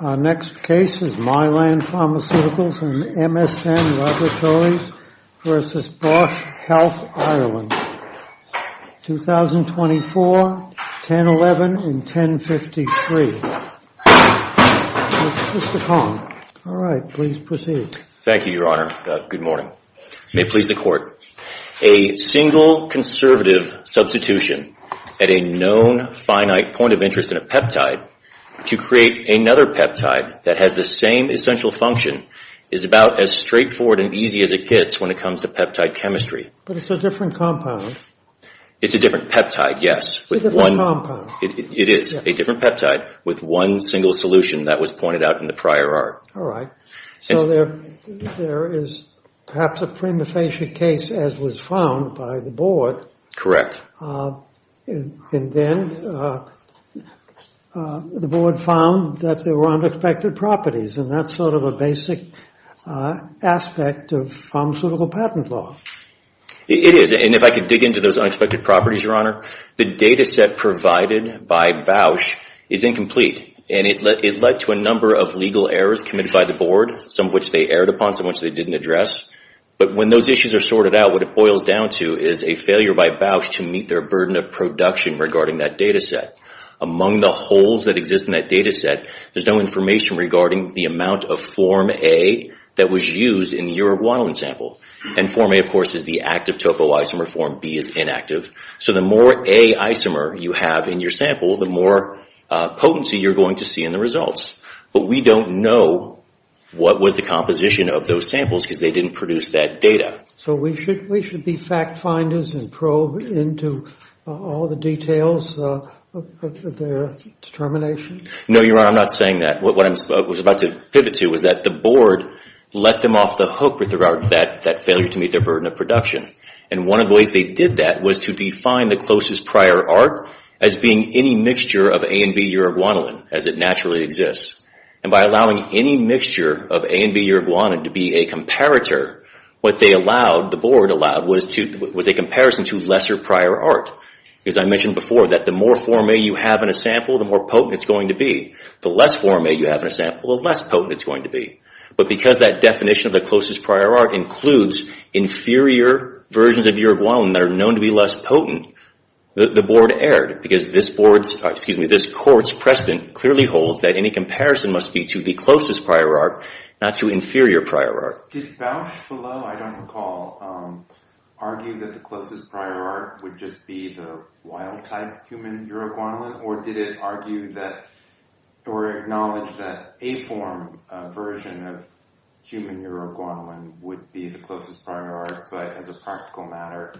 Our next case is Mylan Pharmaceuticals and MSN Laboratories v. Bausch Health Ireland, 2024, 1011 and 1053. Mr. Kong, alright, please proceed. Thank you, Your Honor. Good morning. May it please the Court. A single conservative substitution at a known finite point of interest in a peptide to create another peptide that has the same essential function is about as straightforward and easy as it gets when it comes to peptide chemistry. But it's a different compound. It's a different peptide, yes. It's a different compound. It is a different peptide with one single solution that was pointed out in the prior art. Alright, so there is perhaps a prima facie case as was found by the board. Correct. And then the board found that there were unexpected properties and that's sort of a basic aspect of pharmaceutical patent law. It is, and if I could dig into those unexpected properties, Your Honor. The data set provided by Bausch is incomplete and it led to a number of legal errors committed by the board, some of which they erred upon, some of which they didn't address. But when those issues are sorted out, what it boils down to is a failure by Bausch to meet their burden of production regarding that data set. Among the holes that exist in that data set, there's no information regarding the amount of Form A that was used in the Uruguayan sample. And Form A, of course, is the active topoisomer. Form B is inactive. So the more A isomer you have in your sample, the more potency you're going to see in the results. But we don't know what was the composition of those samples because they didn't produce that data. So we should be fact-finders and probe into all the details of their determination? No, Your Honor, I'm not saying that. What I was about to pivot to was that the board let them off the hook with regard to that failure to meet their burden of production. And one of the ways they did that was to define the closest prior art as being any mixture of A and B-Uruguayan as it naturally exists. And by allowing any mixture of A and B-Uruguayan to be a comparator, what the board allowed was a comparison to lesser prior art. As I mentioned before, the more Form A you have in a sample, the more potent it's going to be. The less Form A you have in a sample, the less potent it's going to be. But because that definition of the closest prior art includes inferior versions of Uruguayan that are known to be less potent, the board erred because this court's precedent clearly holds that any comparison must be to the closest prior art, not to inferior prior art. Did Bausch-Fallot, I don't recall, argue that the closest prior art would just be the wild-type human Uruguayan, or did it argue that, or acknowledge that, A-Form version of human Uruguayan would be the closest prior art, but as a practical matter,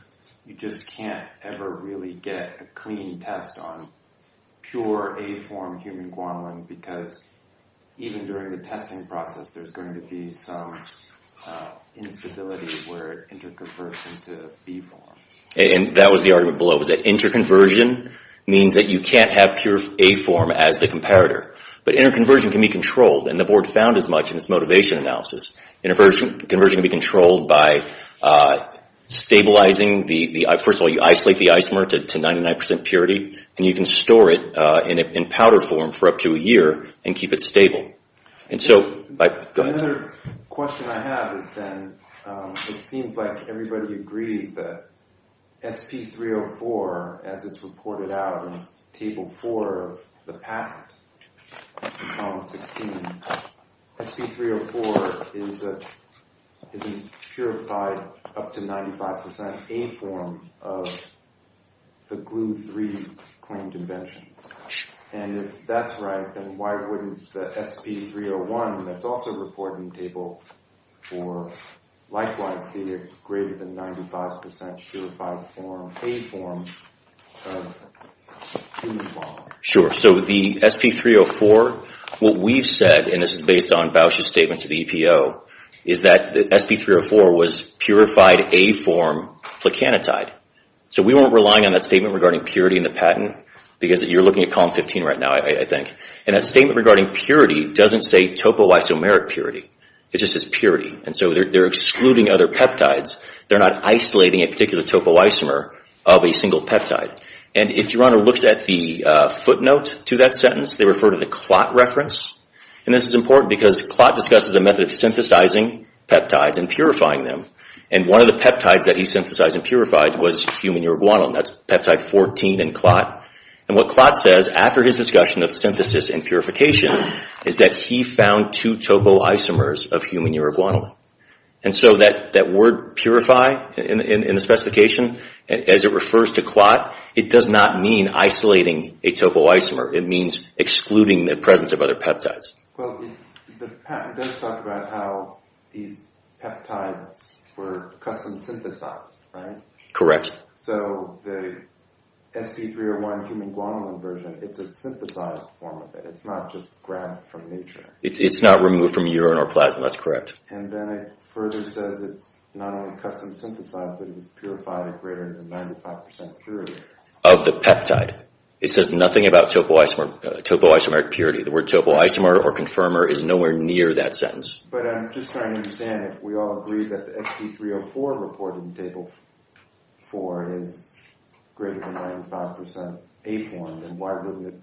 you just can't ever really get a clean test on pure A-Form human Guatemalan because even during the testing process, there's going to be some instability where it interconverts into B-Form. And that was the argument below, was that interconversion means that you can't have pure A-Form as the comparator. But interconversion can be controlled, and the board found as much in its motivation analysis. Interconversion can be controlled by stabilizing the, first of all, you isolate the ice-mer to 99% purity, and you can store it in powder form for up to a year and keep it stable. And so, go ahead. Another question I have is then, it seems like everybody agrees that SP-304, as it's reported out in Table 4 of the patent, in Column 16, SP-304 is a purified up to 95% A-Form of the Glu-3 claimed invention. And if that's right, then why wouldn't the SP-301, that's also reported in Table 4, likewise be a greater than 95% purified A-Form of human Guatemalan? Sure. So the SP-304, what we've said, and this is based on Bausch's statements to the EPO, is that the SP-304 was purified A-Form plicanotide. So we weren't relying on that statement regarding purity in the patent, because you're looking at Column 15 right now, I think. And that statement regarding purity doesn't say topoisomeric purity. It just says purity. And so they're excluding other peptides. They're not isolating a particular topoisomer of a single peptide. And if your honor looks at the footnote to that sentence, they refer to the Klott reference. And this is important, because Klott discusses a method of synthesizing peptides and purifying them. And one of the peptides that he synthesized and purified was human Uruguaynole. That's peptide 14 in Klott. And what Klott says after his discussion of synthesis and purification is that he found two topoisomers of human Uruguaynole. And so that word purify in the specification, as it refers to Klott, it does not mean isolating a topoisomer. It means excluding the presence of other peptides. Well, the patent does talk about how these peptides were custom synthesized, right? Correct. So the sp301 human Guanyin version, it's a synthesized form of it. It's not just grabbed from nature. It's not removed from urine or plasma. That's correct. And then it further says it's not only custom synthesized, but it was purified at greater than 95% purity. Of the peptide. It says nothing about topoisomeric purity. The word topoisomer or confirmer is nowhere near that sentence. But I'm just trying to understand if we all agree that the sp304 reported in Table 4 is greater than 95% APORN, then why wouldn't it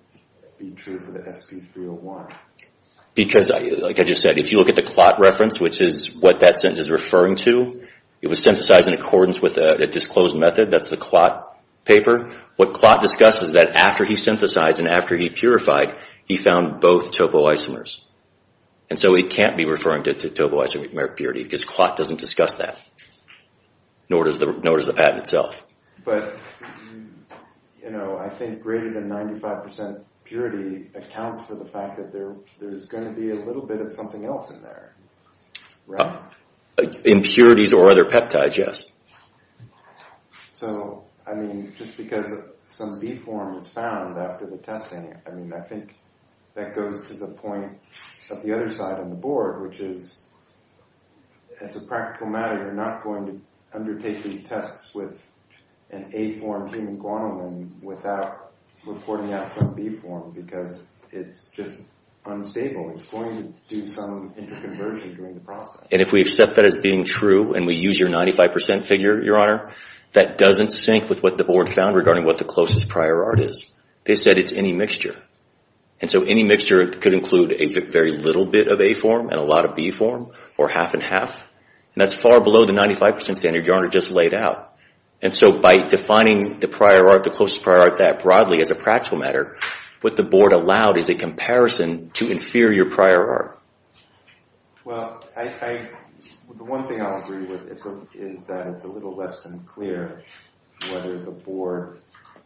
be true for the sp301? Because, like I just said, if you look at the Klott reference, which is what that sentence is referring to, it was synthesized in accordance with a disclosed method. That's the Klott paper. What Klott discusses is that after he synthesized and after he purified, he found both topoisomers. And so he can't be referring to topoisomeric purity, because Klott doesn't discuss that. Nor does the patent itself. But, you know, I think greater than 95% purity accounts for the fact that there's going to be a little bit of something else in there. Impurities or other peptides, yes. So, I mean, just because some B-form is found after the testing, I mean, I think that goes to the point of the other side on the board, which is, as a practical matter, you're not going to undertake these tests with an A-form team in Guantanamo without reporting out some B-form, because it's just unstable. It's going to do some interconversion during the process. And if we accept that as being true, and we use your 95% figure, Your Honor, that doesn't sync with what the board found regarding what the closest prior art is. They said it's any mixture. And so any mixture could include a very little bit of A-form and a lot of B-form, or half and half. And that's far below the 95% standard Your Honor just laid out. And so by defining the prior art, the closest prior art that broadly as a practical matter, what the board allowed is a comparison to inferior prior art. Well, the one thing I'll agree with is that it's a little less than clear whether the board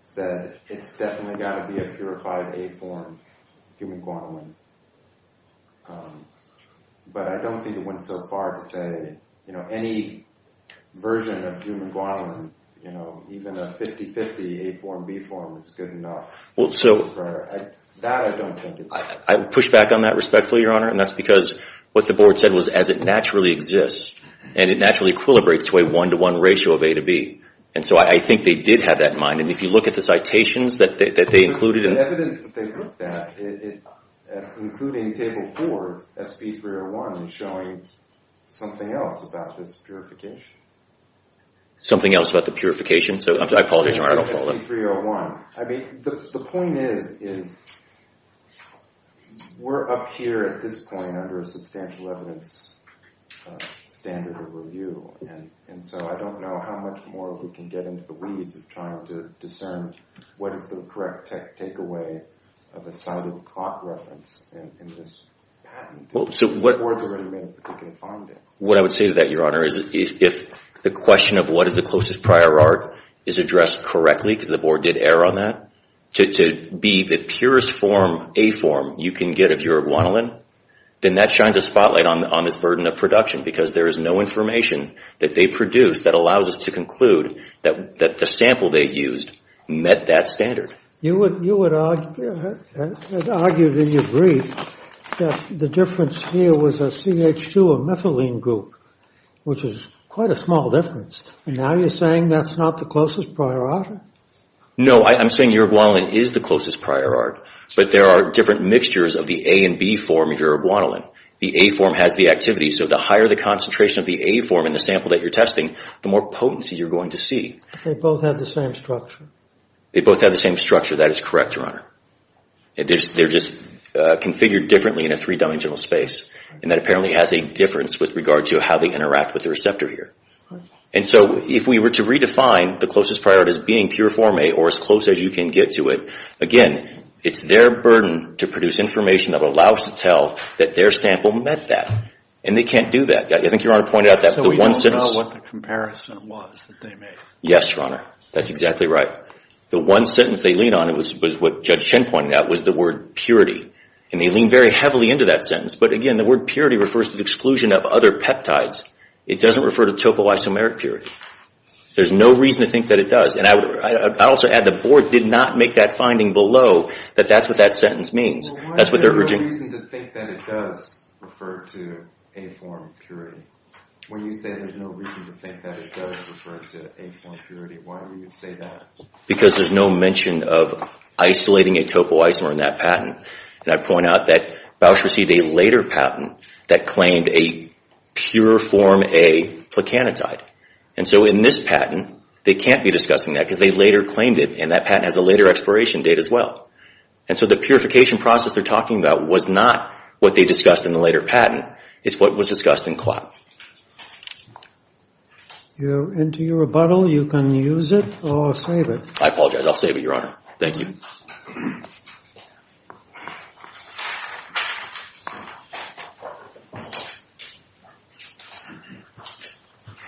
said it's definitely got to be a purified A-form, human guantanamo. But I don't think it went so far to say, you know, that any version of human guantanamo, you know, even a 50-50 A-form, B-form is good enough. That I don't think it's true. I would push back on that respectfully, Your Honor, and that's because what the board said was as it naturally exists, and it naturally equilibrates to a one-to-one ratio of A to B. And so I think they did have that in mind. And if you look at the citations that they included. The evidence that they looked at, including Table 4, SB 301, is showing something else about this purification. Something else about the purification? I apologize, Your Honor, I don't follow that. SB 301. I mean, the point is, is we're up here at this point under a substantial evidence standard of review. And so I don't know how much more we can get into the weeds of trying to discern what is the correct takeaway of a cited clock reference in this patent. What I would say to that, Your Honor, is if the question of what is the closest prior art is addressed correctly, because the board did err on that, to be the purest form, A-form, you can get of your guanolin, then that shines a spotlight on this burden of production. Because there is no information that they produced that allows us to conclude that the sample they used met that standard. You had argued in your brief that the difference here was a CH2, a methylene group, which is quite a small difference. And now you're saying that's not the closest prior art? No, I'm saying your guanolin is the closest prior art. But there are different mixtures of the A and B form of your guanolin. The A-form has the activity, so the higher the concentration of the A-form in the sample that you're testing, the more potency you're going to see. They both have the same structure. They both have the same structure. That is correct, Your Honor. They're just configured differently in a three-dimensional space. And that apparently has a difference with regard to how they interact with the receptor here. And so if we were to redefine the closest prior art as being pure form A or as close as you can get to it, again, it's their burden to produce information that will allow us to tell that their sample met that. And they can't do that. I think Your Honor pointed out that the one sentence... So we don't know what the comparison was that they made? Yes, Your Honor. That's exactly right. The one sentence they leaned on was what Judge Chen pointed out was the word purity. And they leaned very heavily into that sentence. But again, the word purity refers to the exclusion of other peptides. It doesn't refer to topoisomeric purity. There's no reason to think that it does. And I also add the Board did not make that finding below that that's what that sentence means. That's what they're urging. Why is there no reason to think that it does refer to A-form purity when you say there's no reason to think that it does refer to A-form purity? Why would you say that? Because there's no mention of isolating a topoisomer in that patent. And I point out that Bausch received a later patent that claimed a pure form A plecanatide. And so in this patent, they can't be discussing that because they later claimed it. And that patent has a later expiration date as well. And so the purification process they're talking about was not what they discussed in the later patent. It's what was discussed in CLAP. If you're into your rebuttal, you can use it or save it. I apologize. I'll save it, Your Honor. Thank you.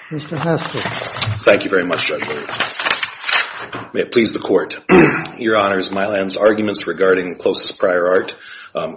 Mr. Haskell. Thank you very much, Judge. May it please the Court. Your Honors, Mylan's arguments regarding closest prior art,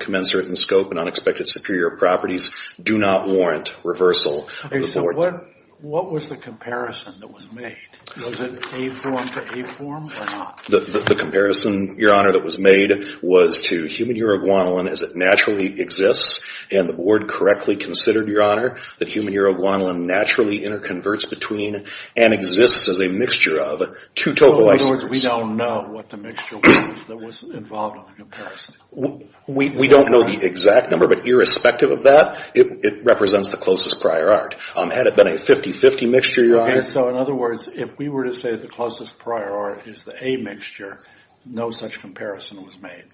commensurate in scope, and unexpected superior properties do not warrant reversal of the board. What was the comparison that was made? Was it A-form to A-form or not? The comparison, Your Honor, that was made was to human uroguanylin as it naturally exists. And the board correctly considered, Your Honor, that human uroguanylin naturally interconverts between and exists as a mixture of two topoisomers. In other words, we don't know what the mixture was that was involved in the comparison. We don't know the exact number, but irrespective of that, it represents the closest prior art. Had it been a 50-50 mixture, Your Honor? Okay, so in other words, if we were to say the closest prior art is the A-mixture, no such comparison was made.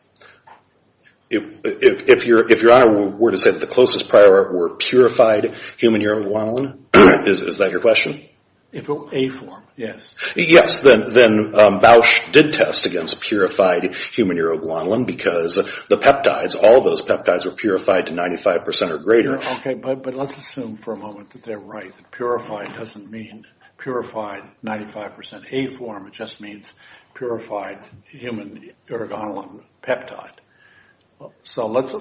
If Your Honor were to say that the closest prior art were purified human uroguanylin, is that your question? A-form, yes. Yes, then Bausch did test against purified human uroguanylin because the peptides, all those peptides were purified to 95% or greater. Okay, but let's assume for a moment that they're right. Purified doesn't mean purified 95% A-form. It just means purified human uroguanylin peptide. So let's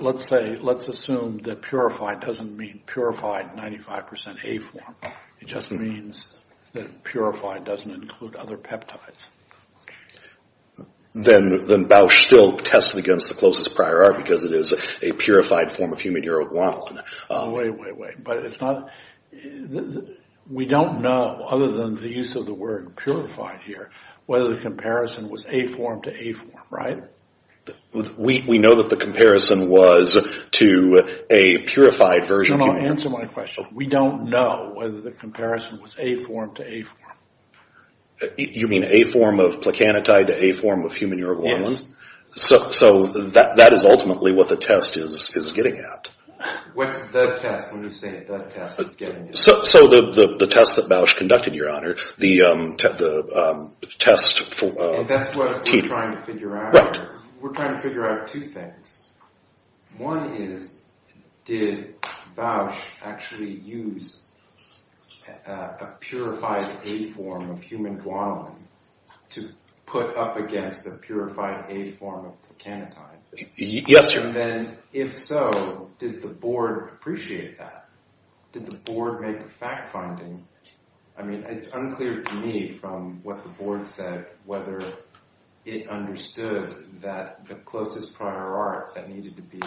assume that purified doesn't mean purified 95% A-form. It just means that purified doesn't include other peptides. Then Bausch still tested against the closest prior art because it is a purified form of human uroguanylin. Wait, wait, wait. We don't know, other than the use of the word purified here, whether the comparison was A-form to A-form, right? We know that the comparison was to a purified version of human uroguanylin. Answer my question. We don't know whether the comparison was A-form to A-form. You mean A-form of placanatide to A-form of human uroguanylin? Yes. So that is ultimately what the test is getting at. What's the test when you say the test is getting at? So the test that Bausch conducted, Your Honor, the test for T. That's what we're trying to figure out? Right. We're trying to figure out two things. One is did Bausch actually use a purified A-form of human guanylin to put up against a purified A-form of placanatide? Yes, sir. Then if so, did the Board appreciate that? Did the Board make a fact-finding? I mean, it's unclear to me from what the Board said whether it understood that the closest prior art that needed to be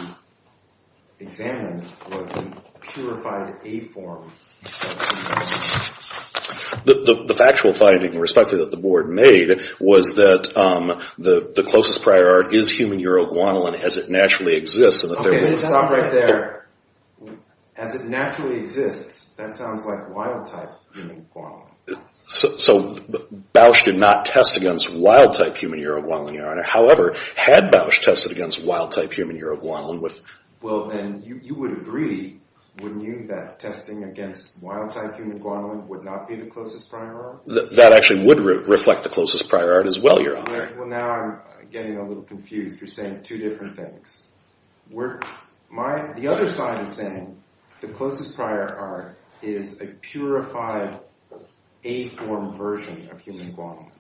examined was a purified A-form of human guanylin. The factual finding, respectively, that the Board made was that the closest prior art is human uroguanylin as it naturally exists. Okay, stop right there. As it naturally exists, that sounds like wild-type human guanylin. So Bausch did not test against wild-type human uroguanylin, Your Honor. However, had Bausch tested against wild-type human uroguanylin with... Well, then you would agree, wouldn't you, that testing against wild-type human guanylin would not be the closest prior art? That actually would reflect the closest prior art as well, Your Honor. Well, now I'm getting a little confused. You're saying two different things. The other side is saying the closest prior art is a purified A-form version of human guanylin.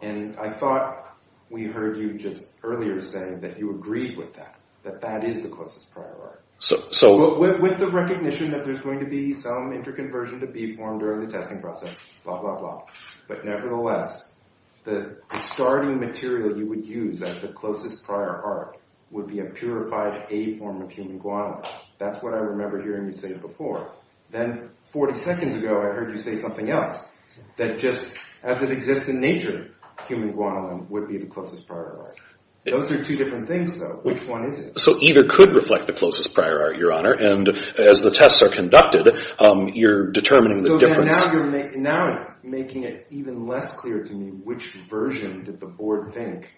And I thought we heard you just earlier say that you agreed with that, that that is the closest prior art. With the recognition that there's going to be some interconversion to B-form during the testing process, blah, blah, blah. But nevertheless, the starting material you would use as the closest prior art would be a purified A-form of human guanylin. That's what I remember hearing you say before. Then 40 seconds ago, I heard you say something else, that just as it exists in nature, human guanylin would be the closest prior art. Those are two different things, though. Which one is it? So either could reflect the closest prior art, Your Honor. And as the tests are conducted, you're determining the difference. Now it's making it even less clear to me which version did the board think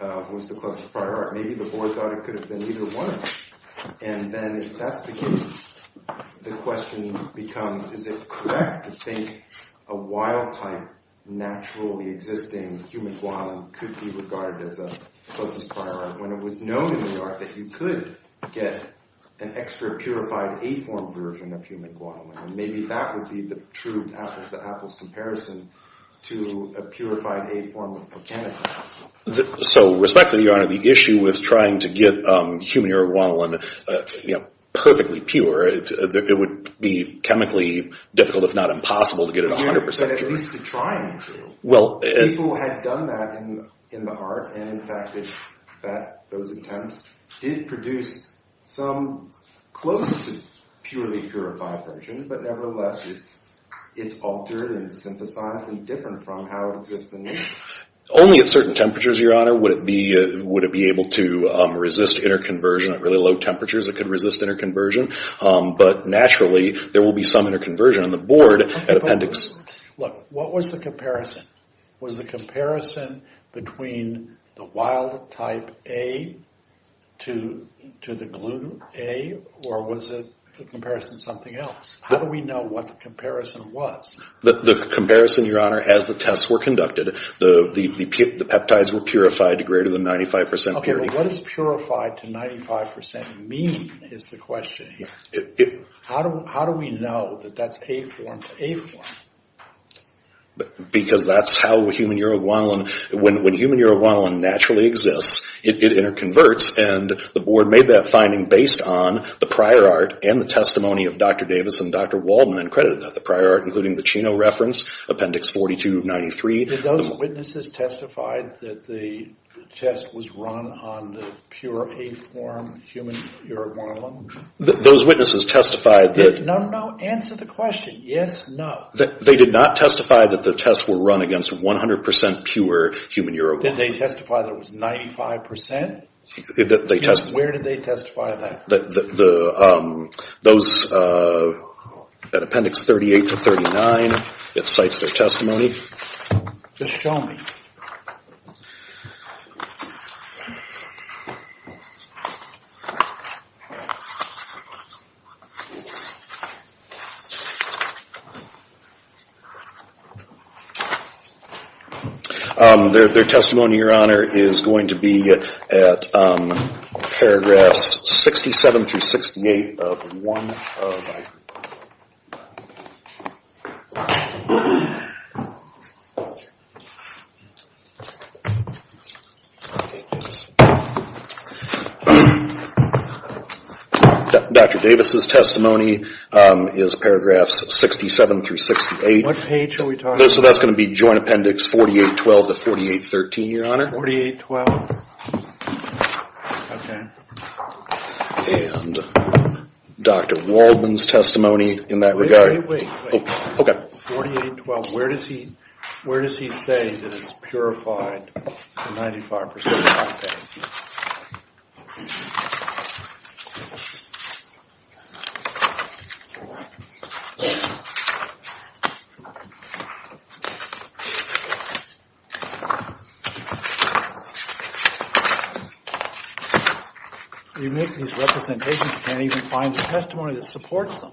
was the closest prior art. Maybe the board thought it could have been either one of them. And then if that's the case, the question becomes, is it correct to think a wild-type, naturally existing human guanylin could be regarded as a closest prior art, when it was known in New York that you could get an extra purified A-form version of human guanylin. Maybe that would be the true apples-to-apples comparison to a purified A-form of a chemical. So respectfully, Your Honor, the issue with trying to get human-era guanylin perfectly pure, it would be chemically difficult, if not impossible, to get it 100% pure. But at least you're trying to. People had done that in the art, and in fact, those attempts did produce some close-to-purely purified version, but nevertheless, it's altered and synthesized and different from how it exists in nature. Only at certain temperatures, Your Honor, would it be able to resist interconversion. At really low temperatures, it could resist interconversion. But naturally, there will be some interconversion on the board at appendix. Look, what was the comparison? Was the comparison between the wild type A to the gluten A, or was the comparison something else? How do we know what the comparison was? The comparison, Your Honor, as the tests were conducted, the peptides were purified to greater than 95% purity. Okay, but what does purified to 95% mean is the question here. How do we know that that's A form to A form? Because that's how human uroguanulin, when human uroguanulin naturally exists, it interconverts, and the board made that finding based on the prior art and the testimony of Dr. Davis and Dr. Waldman and credited that. The prior art, including the Chino reference, appendix 4293. Did those witnesses testify that the test was run on the pure A form human uroguanulin? Those witnesses testified that. No, no, answer the question. Yes, no. They did not testify that the tests were run against 100% pure human uroguanulin. Did they testify that it was 95%? Where did they testify that? Those at appendix 38 to 39, it cites their testimony. Just show me. Their testimony, Your Honor, is going to be at paragraphs 67 through 68 of 1 of my. Dr. Davis's testimony is paragraphs 67 through 68. What page are we talking about? So that's going to be joint appendix 4812 to 4813, Your Honor. 4812. Okay. And Dr. Waldman's testimony in that regard. Wait, wait, wait. Okay. 4812. Where does he say that it's purified to 95%? You make these representations, you can't even find the testimony that supports them.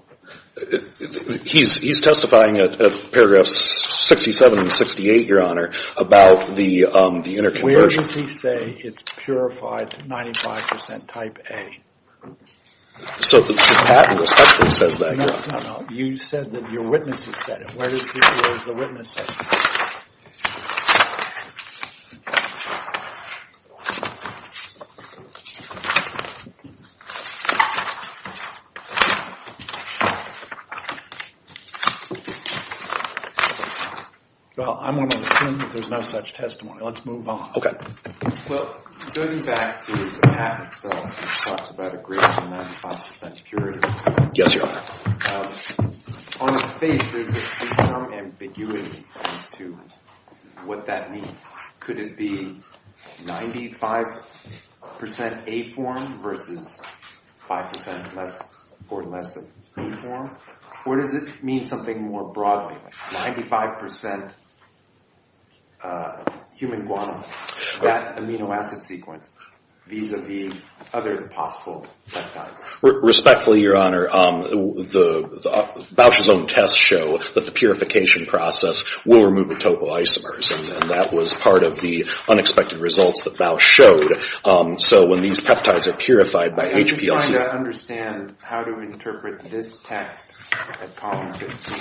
He's testifying at paragraphs 67 and 68, Your Honor, about the interconversion. Where does he say it's purified to 95% type A? So the patent respectfully says that, Your Honor. No, no, no. You said that your witnesses said it. Where does the witness say it? Well, I'm going to assume that there's no such testimony. Let's move on. Well, going back to the patent itself, it talks about a greater than 95% purity. Yes, Your Honor. On its face, there's some ambiguity as to what that means. Could it be 95% A form versus 5% less or less than B form? Or does it mean something more broadly, like 95% human guano? That amino acid sequence vis-a-vis other possible peptides. Respectfully, Your Honor, Bausch's own tests show that the purification process will remove the topoisomers, and that was part of the unexpected results that Bausch showed. So when these peptides are purified by HPLC... I'm trying to understand how to interpret this test at column 15.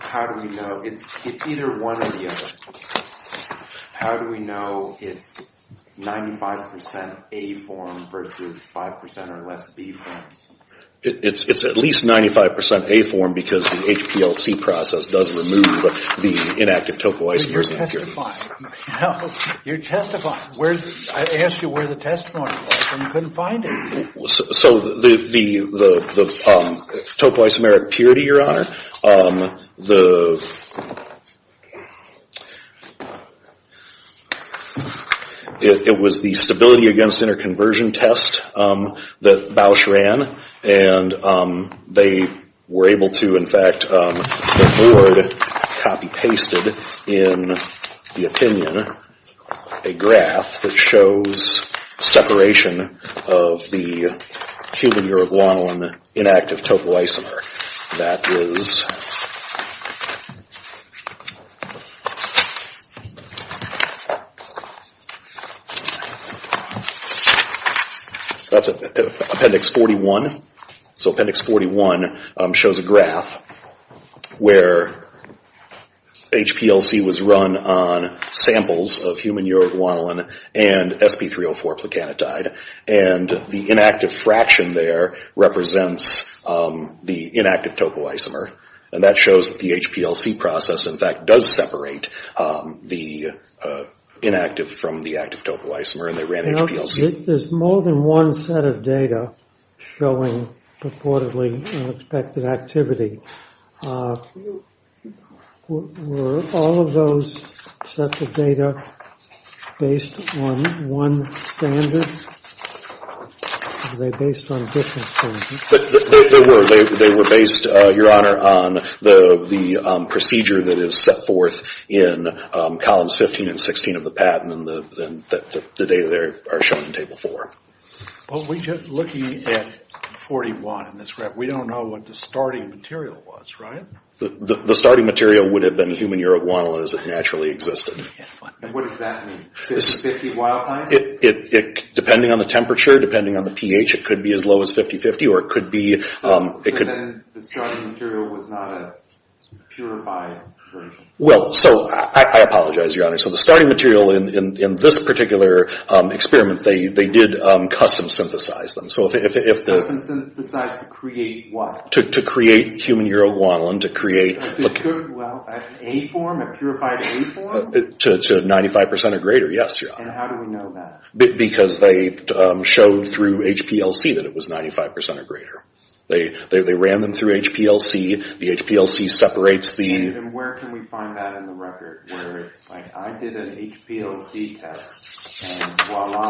How do we know? It's either one or the other. How do we know it's 95% A form versus 5% or less B form? It's at least 95% A form because the HPLC process does remove the inactive topoisomers. But you're testifying. You're testifying. I asked you where the testimony was, and you couldn't find it. So the topoisomeric purity, Your Honor, the... It was the stability against interconversion test that Bausch ran, and they were able to, in fact, record, copy-pasted in the opinion, a graph that shows separation of the human-Uruguayan inactive topoisomer. That is... That's Appendix 41. So Appendix 41 shows a graph where HPLC was run on samples of human-Uruguayan and sp304 plicanatide, and the inactive fraction there represents the inactive topoisomer, and that shows that the HPLC process, in fact, does separate the inactive from the active topoisomer, and they ran HPLC. There's more than one set of data showing purportedly unexpected activity. Were all of those sets of data based on one standard? Were they based on different standards? They were. They were based, Your Honor, on the procedure that is set forth in columns 15 and 16 of the patent, and the data there are shown in Table 4. Well, looking at 41 in this graph, we don't know what the starting material was, right? The starting material would have been human-Uruguayan, as it naturally existed. And what does that mean? 50-50 wild-type? Depending on the temperature, depending on the pH, it could be as low as 50-50, or it could be— So then the starting material was not a purified version? Well, so I apologize, Your Honor. So the starting material in this particular experiment, they did custom synthesize them. Custom synthesize to create what? To create human-Uruguayan, to create— Well, an A-form, a purified A-form? To 95% or greater, yes, Your Honor. And how do we know that? Because they showed through HPLC that it was 95% or greater. They ran them through HPLC. The HPLC separates the— And where can we find that in the record? Where it's like, I did an HPLC test, and voila.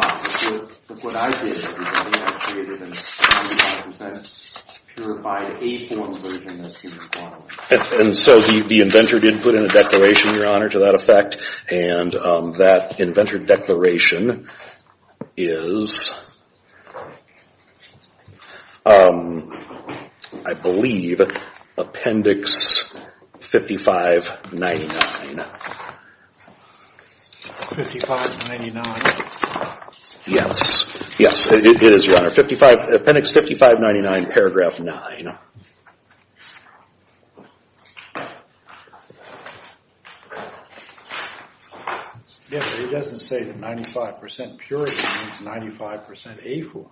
What I did is I created a 95% purified A-form version of human-Uruguayan. And so the inventor did put in a declaration, Your Honor, to that effect, and that inventor declaration is, I believe, Appendix 5599. 5599. Yes. Yes, it is, Your Honor. Appendix 5599, paragraph 9. Yes, but he doesn't say that 95% purified means 95% A-form.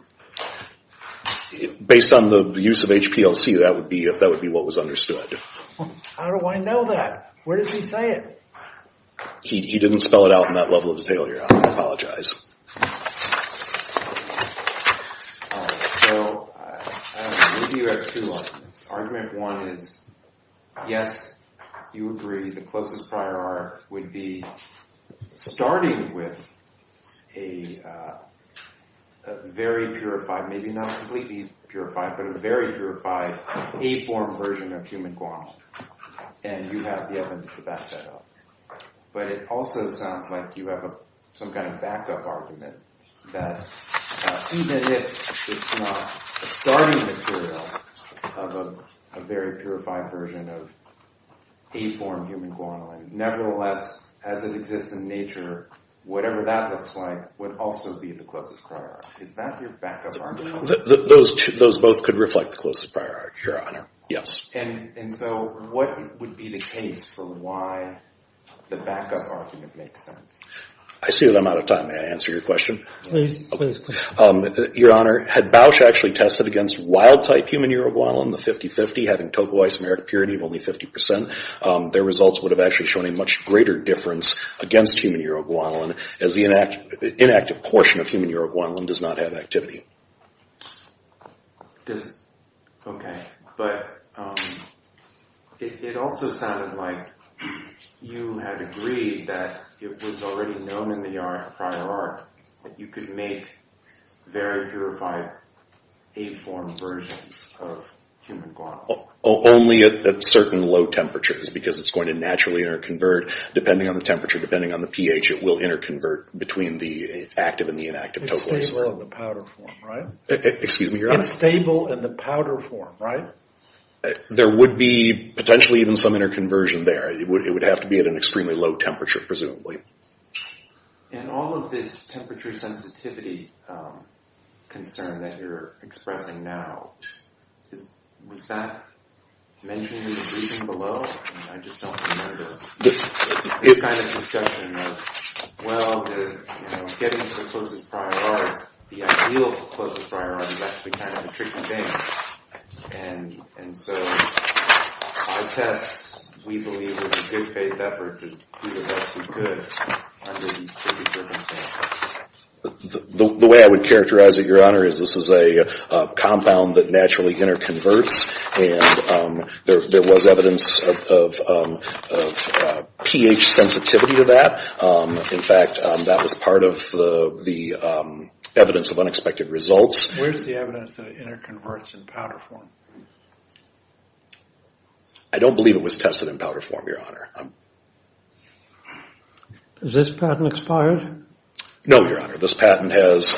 Based on the use of HPLC, that would be what was understood. How do I know that? Where does he say it? He didn't spell it out in that level of detail, Your Honor. I apologize. So maybe you have two lines. Argument one is, yes, you agree the closest prior art would be starting with a very purified, maybe not completely purified, but a very purified A-form version of human Guam, and you have the evidence to back that up. But it also sounds like you have some kind of backup argument that even if it's not starting material of a very purified version of A-form human Guam, nevertheless, as it exists in nature, whatever that looks like would also be the closest prior art. Is that your backup argument? Those both could reflect the closest prior art, Your Honor, yes. And so what would be the case for why the backup argument makes sense? I see that I'm out of time. May I answer your question? Please, please, please. Your Honor, had Bausch actually tested against wild-type human Uruguayan, the 50-50, having total isomeric purity of only 50%, their results would have actually shown a much greater difference against human Uruguayan as the inactive portion of human Uruguayan does not have activity. Okay. But it also sounded like you had agreed that it was already known in the prior art that you could make very purified A-form versions of human Guam. Only at certain low temperatures because it's going to naturally interconvert. Depending on the temperature, depending on the pH, it will interconvert between the active and the inactive totals. It's stable in the powder form, right? Excuse me, Your Honor? It's stable in the powder form, right? There would be potentially even some interconversion there. It would have to be at an extremely low temperature, presumably. And all of this temperature sensitivity concern that you're expressing now, was that mentioned in the briefing below? I just don't remember. It's kind of a discussion of, well, getting to the closest prior art, the ideal closest prior art is actually kind of a tricky thing. And so our tests, we believe, would be a good faith effort to do the best we could under these circumstances. The way I would characterize it, Your Honor, is this is a compound that naturally interconverts. And there was evidence of pH sensitivity to that. In fact, that was part of the evidence of unexpected results. Where's the evidence that it interconverts in powder form? I don't believe it was tested in powder form, Your Honor. Is this patent expired? No, Your Honor. This patent has,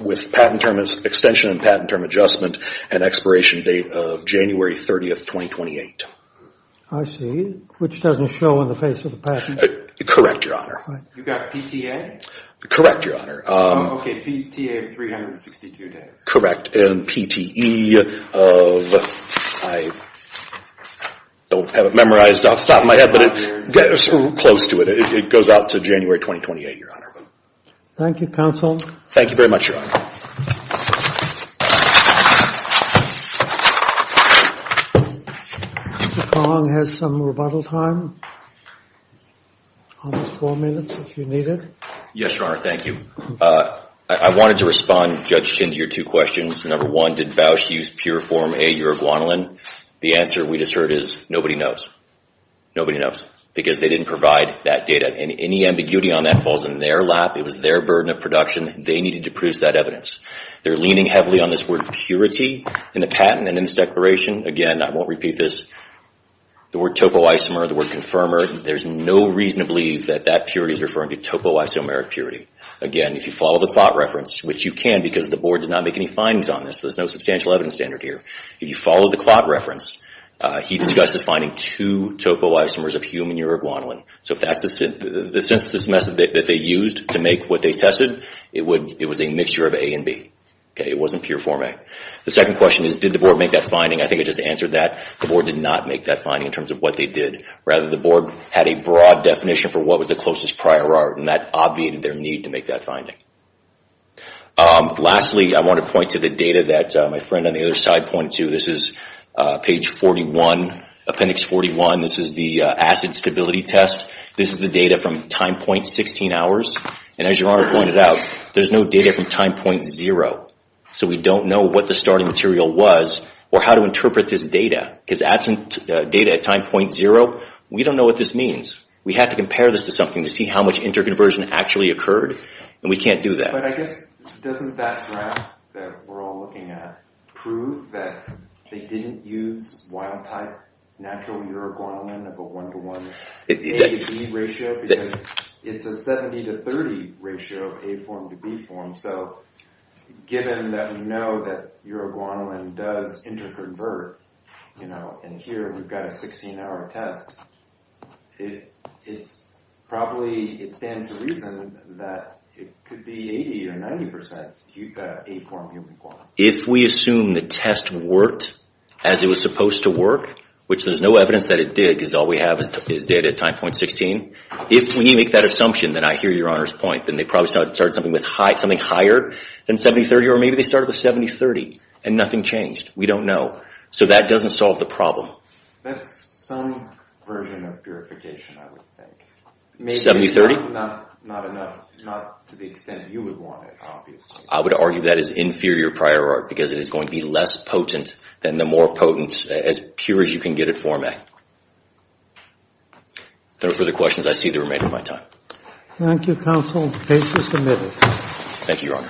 with patent term extension and patent term adjustment, an expiration date of January 30th, 2028. I see. Which doesn't show on the face of the patent. Correct, Your Honor. You got PTA? Correct, Your Honor. Oh, okay. PTA of 362 days. Correct. And PTE of, I don't have it memorized off the top of my head, but it gets close to it. It goes out to January 2028, Your Honor. Thank you, counsel. Thank you very much, Your Honor. Mr. Fong has some rebuttal time. Almost four minutes if you need it. Yes, Your Honor. Thank you. I wanted to respond, Judge Chin, to your two questions. Number one, did Bausch use pure form A uroguanulin? The answer we just heard is nobody knows. Nobody knows because they didn't provide that data. And any ambiguity on that falls in their lap. It was their burden of production. They needed to produce that evidence. They're leaning heavily on this word purity in the patent and in this declaration. Again, I won't repeat this. The word topoisomer, the word confirmer, there's no reason to believe that that purity is referring to topoisomeric purity. Again, if you follow the clot reference, which you can because the Board did not make any findings on this, so there's no substantial evidence standard here. If you follow the clot reference, he discusses finding two topoisomers of human uroguanulin. So if that's the synthesis method that they used to make what they tested, it was a mixture of A and B. It wasn't pure form A. The second question is, did the Board make that finding? I think I just answered that. The Board did not make that finding in terms of what they did. Rather, the Board had a broad definition for what was the closest prior art, and that obviated their need to make that finding. Lastly, I want to point to the data that my friend on the other side pointed to. This is page 41, appendix 41. This is the acid stability test. This is the data from time point 16 hours. And as your Honor pointed out, there's no data from time point zero. So we don't know what the starting material was or how to interpret this data. Because absent data at time point zero, we don't know what this means. We have to compare this to something to see how much interconversion actually occurred. And we can't do that. But I guess doesn't that graph that we're all looking at prove that they didn't use wild-type natural uroguanolin of a 1-to-1 A-to-B ratio? Because it's a 70-to-30 ratio of A form to B form. So given that we know that uroguanolin does interconvert, and here we've got a 16-hour test, it probably stands to reason that it could be 80% or 90% A form, B form. If we assume the test worked as it was supposed to work, which there's no evidence that it did because all we have is data at time point 16, if we make that assumption, then I hear your Honor's point, then they probably started something higher than 70-30, or maybe they started with 70-30 and nothing changed. We don't know. So that doesn't solve the problem. That's some version of purification, I would think. 70-30? Maybe not to the extent you would want it, obviously. I would argue that is inferior prior art because it is going to be less potent than the more potent, as pure as you can get at form A. If there are further questions, I see the remainder of my time. Thank you, Counsel. The case is submitted. Thank you, Your Honor.